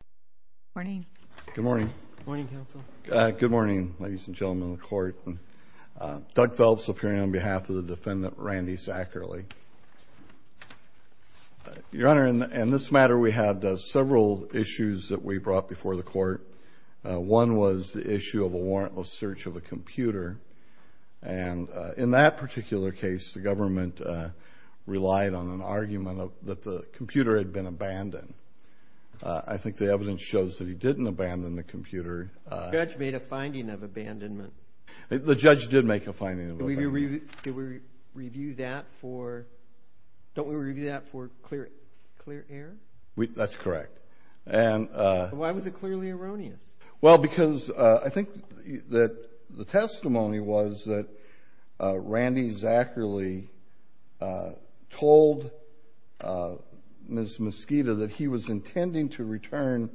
Good morning. Good morning. Good morning ladies and gentlemen of the court. Doug Phelps appearing on behalf of the defendant Randy Zacherle. Your Honor, in this matter we had several issues that we brought before the court. One was the issue of a warrantless search of a computer and in that particular case the government relied on an argument that the computer had been abandoned. I think the evidence shows that he didn't abandon the computer. The judge made a finding of abandonment. The judge did make a finding. Did we review that for, don't we review that for clear error? That's correct. And why was it clearly erroneous? Well because I think that the testimony was that Randy Zacherle told Ms. Mesquita that he was intending to return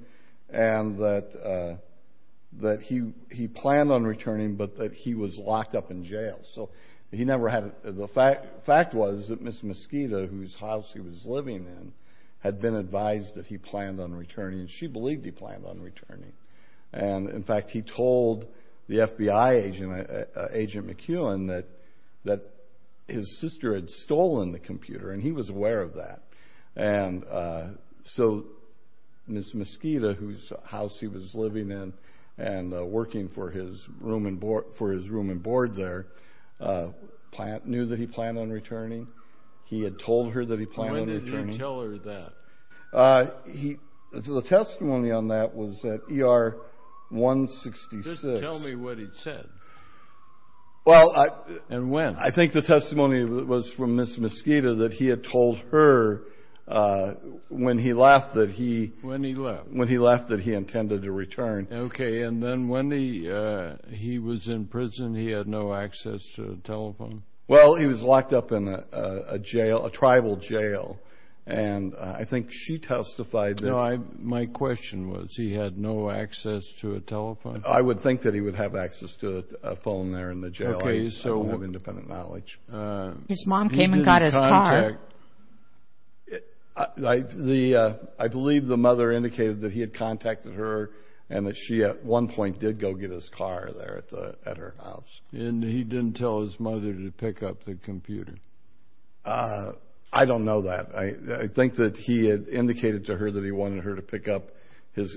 and that he planned on returning but that he was locked up in jail. So he never had, the fact was that Ms. Mesquita, whose house he was living in, had been advised that he planned on returning. She believed he planned on returning. And in fact he told the FBI agent McEwen that his sister had stolen the computer and he was aware of that. And so Ms. Mesquita, whose house he was living in and working for his room and board there, knew that he planned on returning. He had told her that he planned on returning. When did you tell her that? The testimony on that was at ER 166. Just tell me what he said. And when. I think the testimony was from Ms. Mesquita that he had told her when he left that he. When he left. When he left that he intended to return. Okay. And then when he was in prison he had no access to a telephone? Well he was locked up in a jail, a tribal jail. And I think she testified that. No, my question was he had no access to a telephone? I would think that he would have access to a phone there in the jail. I don't have independent knowledge. His mom came and got his car. I believe the mother indicated that he had contacted her and that she at one point did go get his car there at her house. And he didn't tell his mother to pick up the computer? I don't know that. I think that he had indicated to her that he wanted her to pick up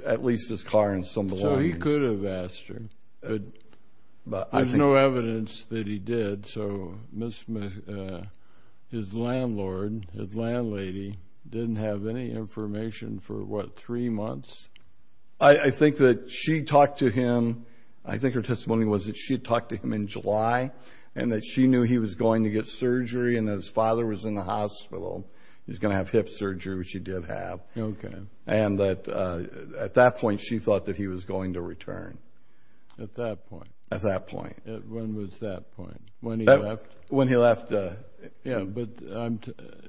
at least his car and some belongings. So he could have asked her. But there's no evidence that he did. So his landlord, his landlady, didn't have any information for what, three months? I think that she talked to him. I think her testimony was that she had talked to him in July. And that she knew he was going to get surgery and that his father was in the hospital. He was going to have hip surgery, which he did have. Okay. And that at that point she thought that he was going to return. At that point? At that point. When was that point? When he left? When he left. Yeah, but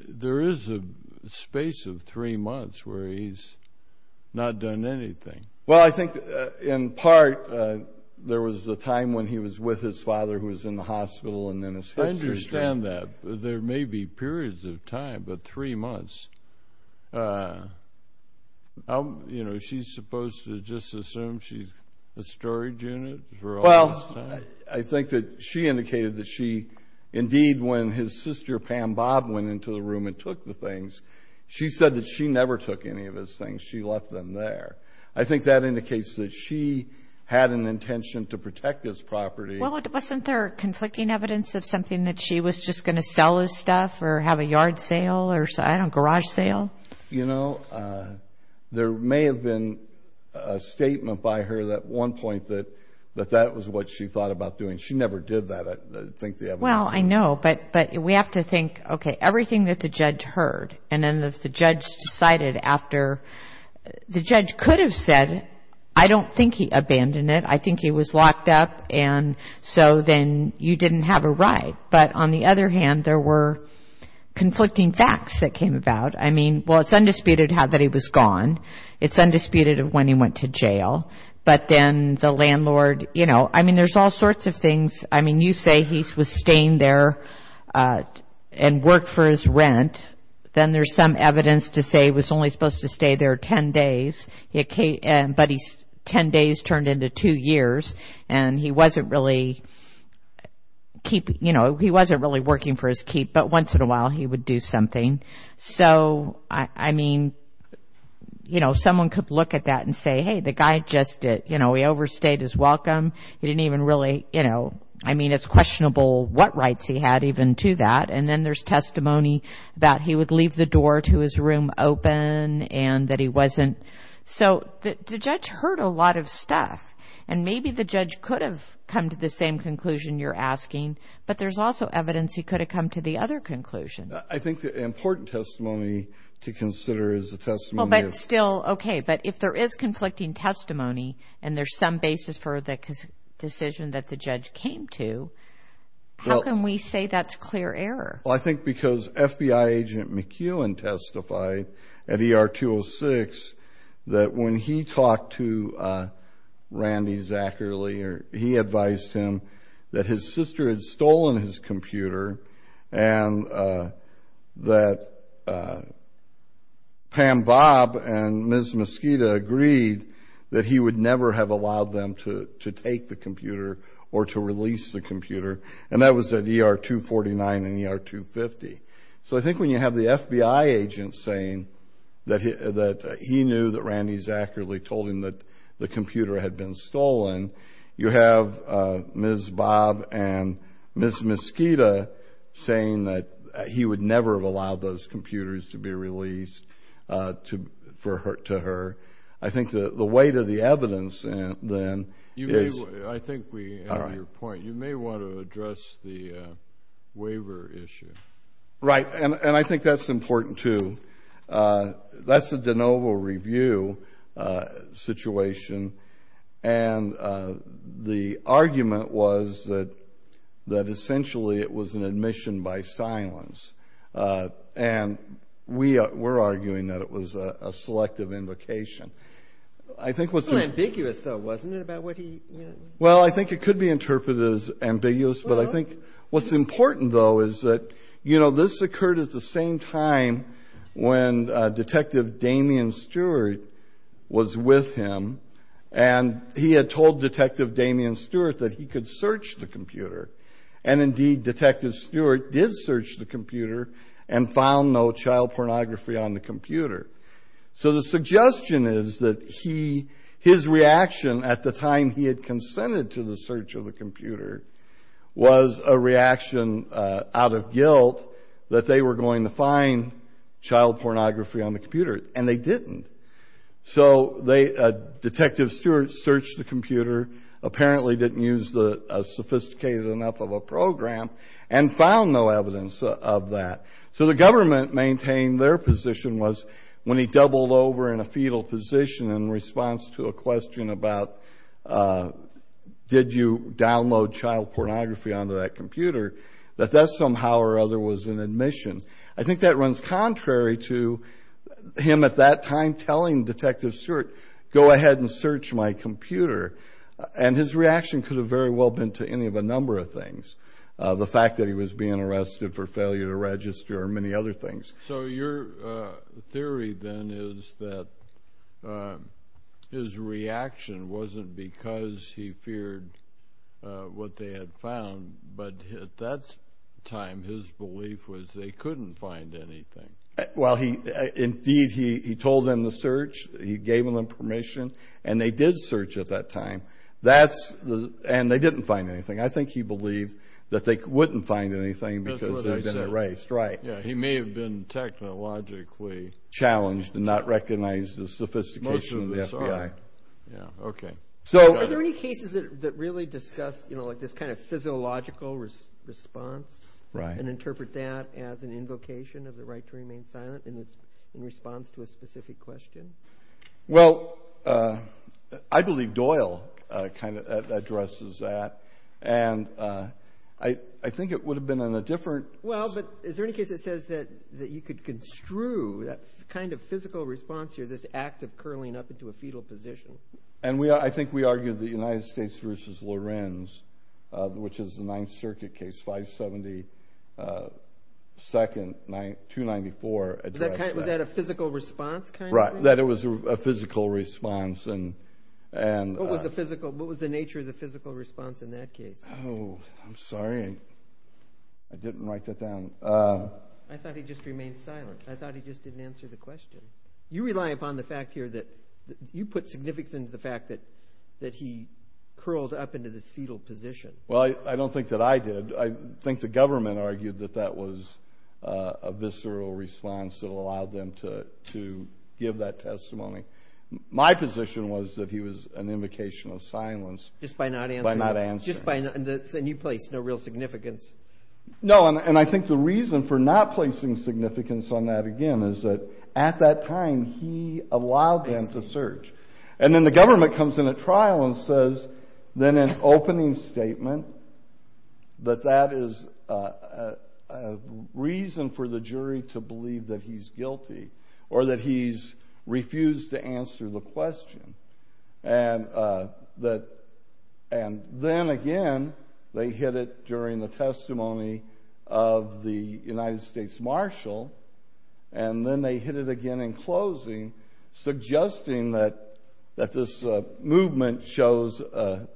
there is a space of three months where he's not done anything. Well, I think in part there was a time when he was with his father who was in the hospital and then his hip surgery. I understand that. There may be periods of time, but three months. You know, is she supposed to just assume she's a storage unit for all this time? Well, I think that she indicated that she, indeed, when his sister Pam Bob went into the room and took the things, she said that she never took any of his things. She left them there. I think that indicates that she had an intention to protect this property. Well, wasn't there conflicting evidence of something that she was just going to sell his stuff or have a yard sale or, I don't know, garage sale? You know, there may have been a statement by her at one point that that was what she thought about doing. She never did that, I think, the evidence. Well, I know, but we have to think, okay, everything that the judge heard and then the judge decided after the judge could have said, I don't think he abandoned it. I think he was locked up, and so then you didn't have a right. But on the other hand, there were conflicting facts that came about. I mean, well, it's undisputed that he was gone. It's undisputed of when he went to jail. But then the landlord, you know, I mean, there's all sorts of things. I mean, you say he was staying there and worked for his rent. Then there's some evidence to say he was only supposed to stay there 10 days. But 10 days turned into two years, and he wasn't really keeping, you know, he wasn't really working for his keep, but once in a while he would do something. So, I mean, you know, someone could look at that and say, hey, the guy just, you know, he overstayed his welcome. He didn't even really, you know, I mean, it's questionable what rights he had even to that. And then there's testimony that he would leave the door to his room open and that he wasn't, so the judge heard a lot of stuff. And maybe the judge could have come to the same conclusion you're asking, but there's also evidence he could have come to the other conclusion. I think the important testimony to consider is the testimony of... Well, but still, okay, but if there is conflicting testimony and there's some basis for the decision that the judge came to, how can we say that's clear error? Well, I think because FBI agent McEwen testified at ER 206 that when he talked to Randy Zachary, he advised him that his sister had stolen his computer and that Pam Bob and Ms. Mosqueda agreed that he would never have allowed them to take the computer or to release the computer. And that was at ER 249 and ER 250. So I think when you have the FBI agent saying that he knew that Randy Zachary told him that the computer had been stolen, you have Ms. Bob and Ms. Mosqueda saying that he would never have allowed those computers to be released to her. I think the weight of the evidence then is... to address the waiver issue. Right, and I think that's important, too. That's a de novo review situation, and the argument was that essentially it was an admission by silence, and we're arguing that it was a selective invocation. I think what's... It was a little ambiguous, though, wasn't it, about what he... Well, I think it could be interpreted as ambiguous, but I think what's important, though, is that this occurred at the same time when Detective Damien Stewart was with him, and he had told Detective Damien Stewart that he could search the computer, and indeed Detective Stewart did search the computer and found no child pornography on the computer. So the suggestion is that his reaction at the time he had consented to the search of the computer was a reaction out of guilt that they were going to find child pornography on the computer, and they didn't. So Detective Stewart searched the computer, apparently didn't use the sophisticated enough of a program, and found no evidence of that. So the government maintained their position was when he doubled over in a fetal position in response to a question about did you download child pornography onto that computer, that that somehow or other was an admission. I think that runs contrary to him at that time telling Detective Stewart, go ahead and search my computer, and his reaction could have very well been to any of a number of things, the fact that he was being arrested for failure to register or many other things. So your theory then is that his reaction wasn't because he feared what they had found, but at that time his belief was they couldn't find anything. Well, indeed he told them to search, he gave them permission, and they did search at that time, and they didn't find anything. I think he believed that they wouldn't find anything because they'd been erased. He may have been technologically challenged and not recognized the sophistication of the FBI. Are there any cases that really discuss this kind of physiological response and interpret that as an invocation of the right to remain silent in response to a specific question? Well, I believe Doyle kind of addresses that, and I think it would have been in a different- Well, but is there any case that says that you could construe that kind of physical response or this act of curling up into a fetal position? And I think we argued the United States v. Lorenz, which is the Ninth Circuit case, 570, 294- Was that a physical response kind of thing? Right, that it was a physical response. What was the nature of the physical response in that case? Oh, I'm sorry. I didn't write that down. I thought he just remained silent. I thought he just didn't answer the question. You rely upon the fact here that you put significance into the fact that he curled up into this fetal position. Well, I don't think that I did. I think the government argued that that was a visceral response that allowed them to give that testimony. My position was that he was an invocation of silence by not answering. And you placed no real significance. No, and I think the reason for not placing significance on that, again, is that at that time he allowed them to search. And then the government comes in at trial and says, then in an opening statement, that that is a reason for the jury to believe that he's guilty or that he's refused to answer the question. And then again, they hit it during the testimony of the United States Marshal. And then they hit it again in closing, suggesting that this movement shows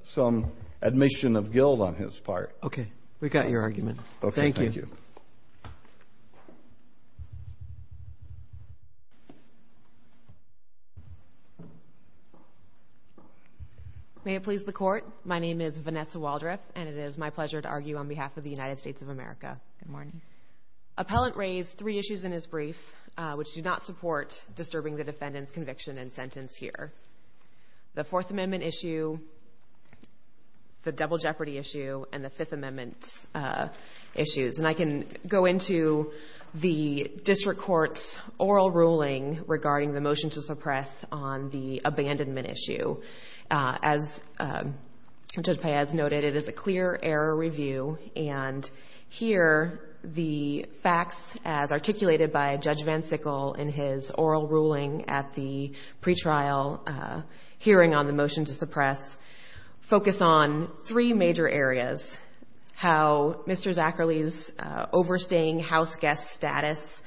some admission of guilt on his part. Okay. We've got your argument. Thank you. May it please the Court. My name is Vanessa Waldriff, and it is my pleasure to argue on behalf of the United States of America. Good morning. Appellant raised three issues in his brief, which do not support disturbing the defendant's conviction and sentence here. The Fourth Amendment issue, the Double Jeopardy issue, and the Fifth Amendment issues. And I can go into the district court's oral ruling regarding the motion to suppress on the abandonment issue. As Judge Paez noted, it is a clear error review. And here the facts, as articulated by Judge Van Sickle in his oral ruling at the pretrial hearing on the motion to suppress, focus on three major areas. How Mr. Zacherle's overstaying house guest status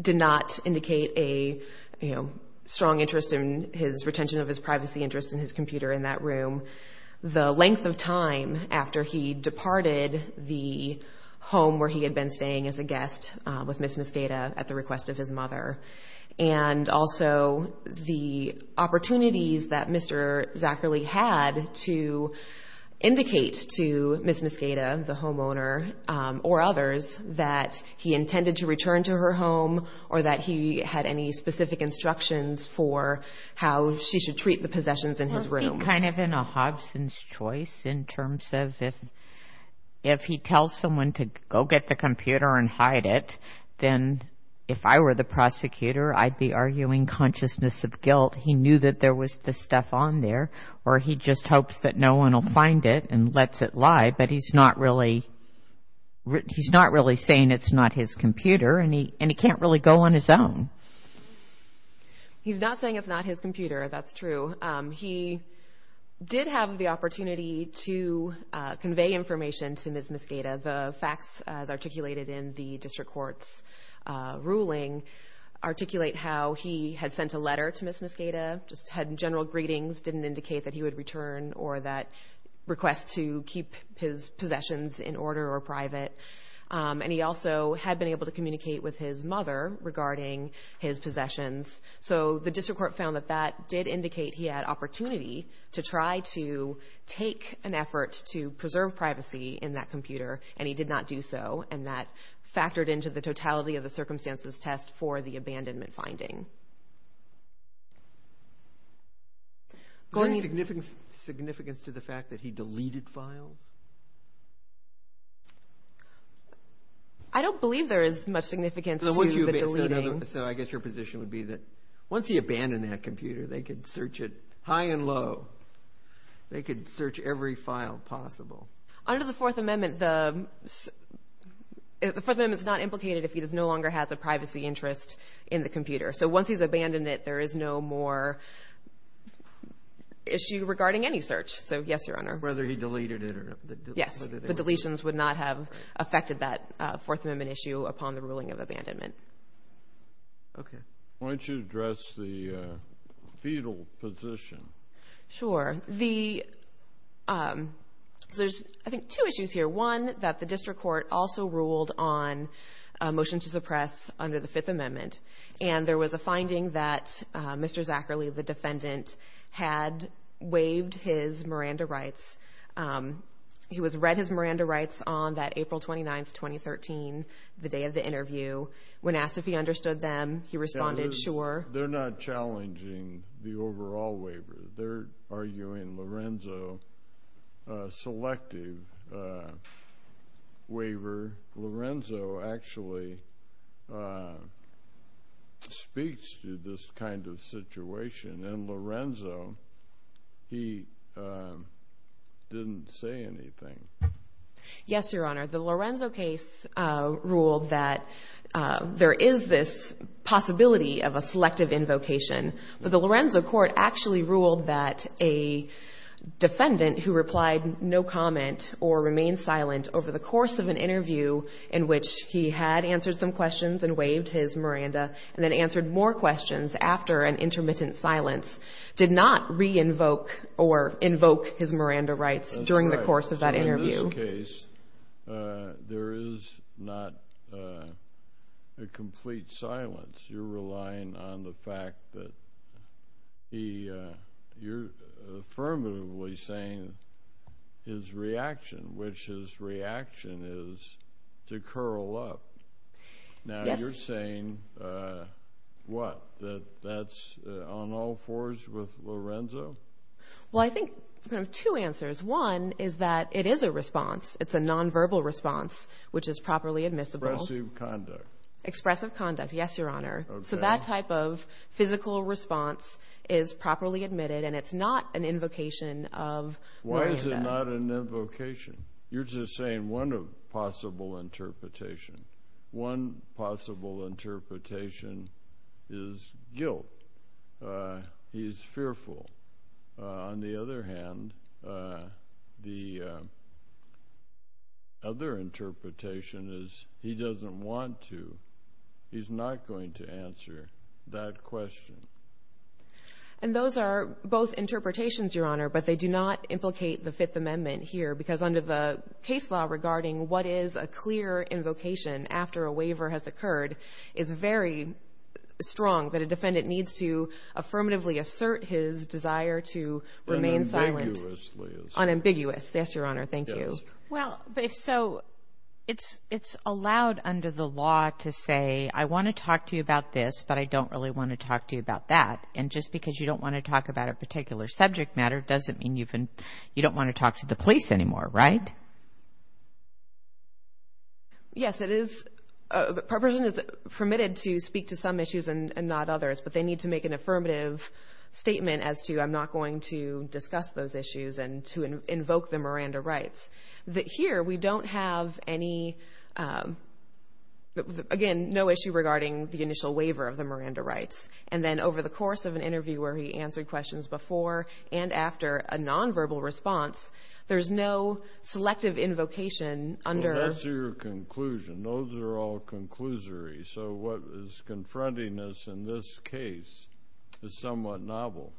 did not indicate a strong interest in his retention of his privacy interest in his computer in that room. The length of time after he departed the home where he had been staying as a guest with Miss Muscata at the request of his mother. And also the opportunities that Mr. Zacherle had to indicate to Miss Muscata, the homeowner, or others, that he intended to return to her home or that he had any specific instructions for how she should treat the possessions in his room. I'm kind of in a Hobson's choice in terms of if he tells someone to go get the computer and hide it, then if I were the prosecutor, I'd be arguing consciousness of guilt. He knew that there was this stuff on there, or he just hopes that no one will find it and lets it lie. But he's not really saying it's not his computer, and he can't really go on his own. He's not saying it's not his computer, that's true. He did have the opportunity to convey information to Miss Muscata. The facts, as articulated in the district court's ruling, articulate how he had sent a letter to Miss Muscata, just had general greetings, didn't indicate that he would return or that request to keep his possessions in order or private. And he also had been able to communicate with his mother regarding his possessions. So the district court found that that did indicate he had opportunity to try to take an effort to preserve privacy in that computer, and he did not do so, and that factored into the totality of the circumstances test for the abandonment finding. Is there any significance to the fact that he deleted files? I don't believe there is much significance to the deleting. So I guess your position would be that once he abandoned that computer, they could search it high and low. They could search every file possible. Under the Fourth Amendment, the Fourth Amendment is not implicated if he no longer has a privacy interest in the computer. So once he's abandoned it, there is no more issue regarding any search. So, yes, Your Honor. Whether he deleted it or not. Yes, the deletions would not have affected that Fourth Amendment issue upon the ruling of abandonment. Okay. Why don't you address the fetal position? Sure. There's, I think, two issues here. One, that the district court also ruled on a motion to suppress under the Fifth Amendment, and there was a finding that Mr. Zacherle, the defendant, had waived his Miranda rights. He was read his Miranda rights on that April 29, 2013, the day of the interview. When asked if he understood them, he responded, sure. They're not challenging the overall waiver. They're arguing Lorenzo selective waiver. Lorenzo actually speaks to this kind of situation, and Lorenzo, he didn't say anything. Yes, Your Honor. The Lorenzo case ruled that there is this possibility of a selective invocation. But the Lorenzo court actually ruled that a defendant who replied no comment or remained silent over the course of an interview in which he had answered some questions and waived his Miranda and then answered more questions after an intermittent silence did not re-invoke or invoke his Miranda rights during the course of that interview. That's right. So, in this case, there is not a complete silence. You're relying on the fact that you're affirmatively saying his reaction, which his reaction is to curl up. Now, you're saying what? That that's on all fours with Lorenzo? Well, I think there are two answers. One is that it is a response. It's a nonverbal response, which is properly admissible. Expressive conduct. Expressive conduct, yes, Your Honor. So that type of physical response is properly admitted, and it's not an invocation of Miranda. Why is it not an invocation? You're just saying one possible interpretation. One possible interpretation is guilt. He's fearful. On the other hand, the other interpretation is he doesn't want to. He's not going to answer that question. And those are both interpretations, Your Honor, but they do not implicate the Fifth Amendment here because under the case law regarding what is a clear invocation after a waiver has occurred is very strong that a defendant needs to affirmatively assert his desire to remain silent. Unambiguously assert. Unambiguous, yes, Your Honor. Thank you. Well, but if so, it's allowed under the law to say, I want to talk to you about this, but I don't really want to talk to you about that. And just because you don't want to talk about a particular subject matter doesn't mean you don't want to talk to the police anymore, right? Yes, it is. A person is permitted to speak to some issues and not others, but they need to make an affirmative statement as to I'm not going to discuss those issues and to invoke the Miranda rights. Here, we don't have any, again, no issue regarding the initial waiver of the Miranda rights. And then over the course of an interview where he answered questions before and after a nonverbal response, there's no selective invocation under. Well, that's your conclusion. Those are all conclusory. So what is confronting us in this case is somewhat novel.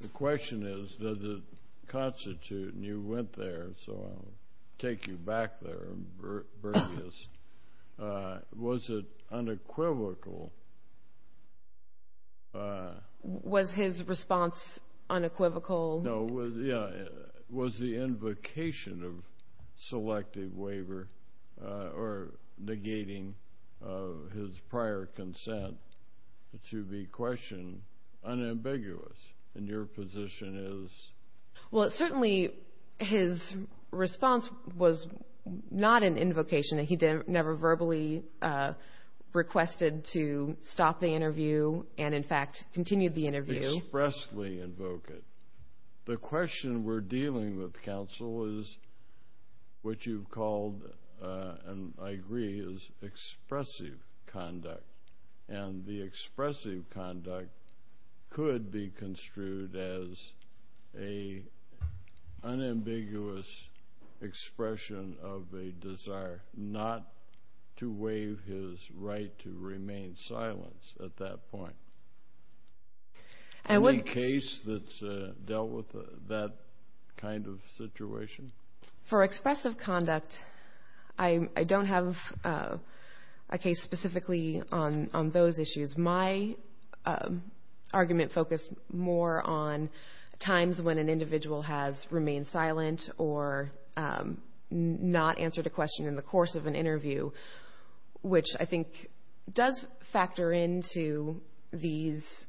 The question is, does it constitute, and you went there, so I'll take you back there and bring this. Was it unequivocal? Was his response unequivocal? No, yeah. Was the invocation of selective waiver or negating his prior consent to be questioned unambiguous? And your position is? Well, certainly his response was not an invocation. He never verbally requested to stop the interview and, in fact, continued the interview. He expressly invoked it. The question we're dealing with, counsel, is what you've called, and I agree, is expressive conduct. And the expressive conduct could be construed as an unambiguous expression of a desire not to waive his right to remain silent at that point. Any case that's dealt with that kind of situation? For expressive conduct, I don't have a case specifically on those issues. My argument focused more on times when an individual has remained silent or not answered a question in the course of an interview, which I think does factor into this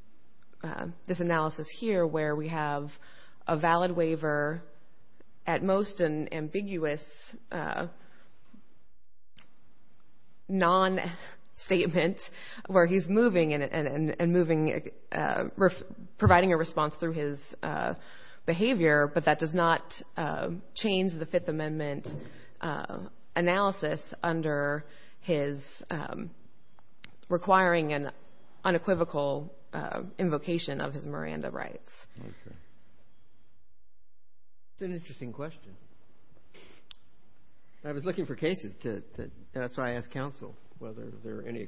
analysis here where we have a valid waiver, at most an ambiguous non-statement where he's moving and providing a response through his behavior, but that does not change the Fifth Amendment analysis under his requiring an unequivocal invocation of his Miranda rights. That's an interesting question. I was looking for cases, and that's why I asked counsel, whether there are any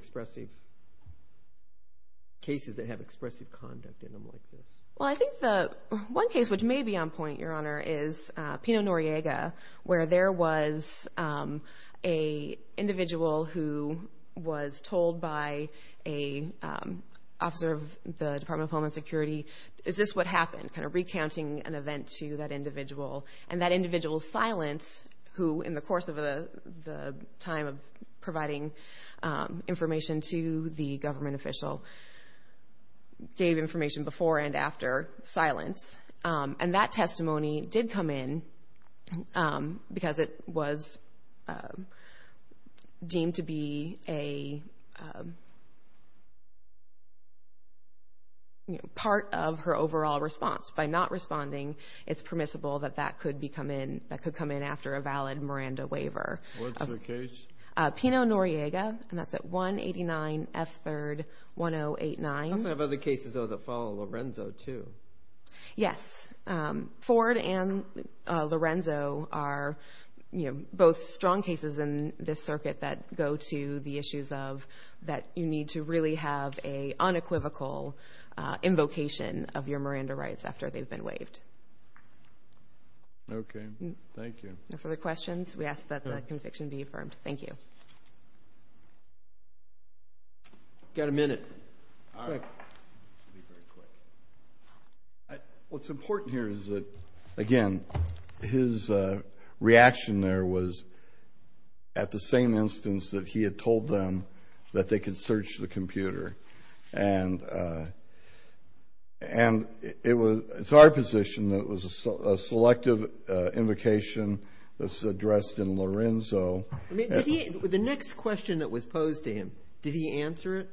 cases that have expressive conduct in them like this. Well, I think the one case which may be on point, Your Honor, is Pino Noriega, where there was an individual who was told by an officer of the Department of Homeland Security, is this what happened, kind of recounting an event to that individual. And that individual's silence, who in the course of the time of providing information to the government official, gave information before and after silence, and that testimony did come in because it was deemed to be a part of her overall response. By not responding, it's permissible that that could come in after a valid Miranda waiver. What's the case? Pino Noriega, and that's at 189 F3rd 1089. I also have other cases, though, that follow Lorenzo, too. Yes. Ford and Lorenzo are both strong cases in this circuit that go to the issues of that you need to really have an unequivocal invocation of your Miranda rights after they've been waived. Okay. Thank you. No further questions? We ask that the conviction be affirmed. Thank you. Got a minute. All right. What's important here is that, again, his reaction there was at the same instance that he had told them that they could search the computer. And it was our position that it was a selective invocation that's addressed in Lorenzo. The next question that was posed to him, did he answer it?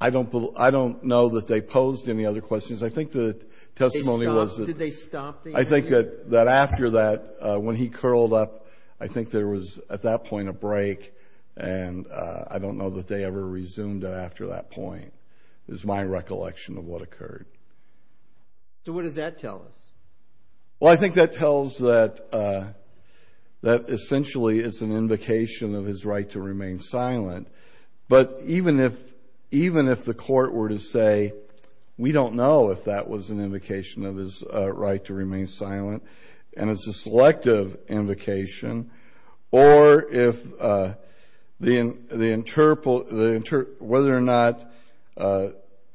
I don't know that they posed any other questions. I think the testimony was that they stopped it. I think that after that, when he curled up, I think there was, at that point, a break. And I don't know that they ever resumed it after that point is my recollection of what occurred. So what does that tell us? Well, I think that tells that essentially it's an invocation of his right to remain silent. But even if the court were to say, we don't know if that was an invocation of his right to remain silent, and it's a selective invocation, or whether or not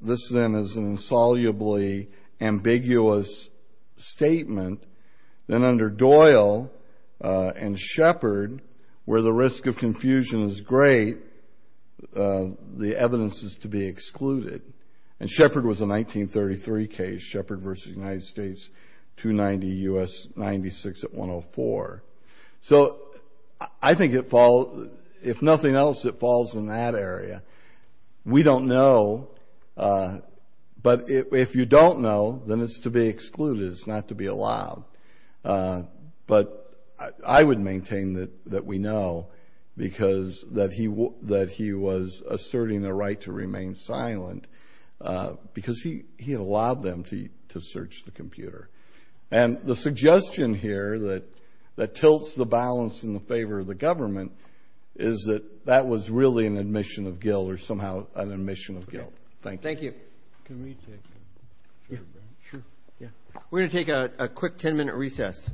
this then is an insolubly ambiguous statement, then under Doyle and Shepard, where the risk of confusion is great, the evidence is to be excluded. And Shepard was a 1933 case, Shepard v. United States, 290 U.S. 96 at 104. So I think if nothing else, it falls in that area. We don't know. But if you don't know, then it's to be excluded. It's not to be allowed. But I would maintain that we know because that he was asserting the right to remain silent because he had allowed them to search the computer. And the suggestion here that tilts the balance in favor of the government is that that was really an admission of guilt or somehow an admission of guilt. Thank you. Thank you. We're going to take a quick 10-minute recess.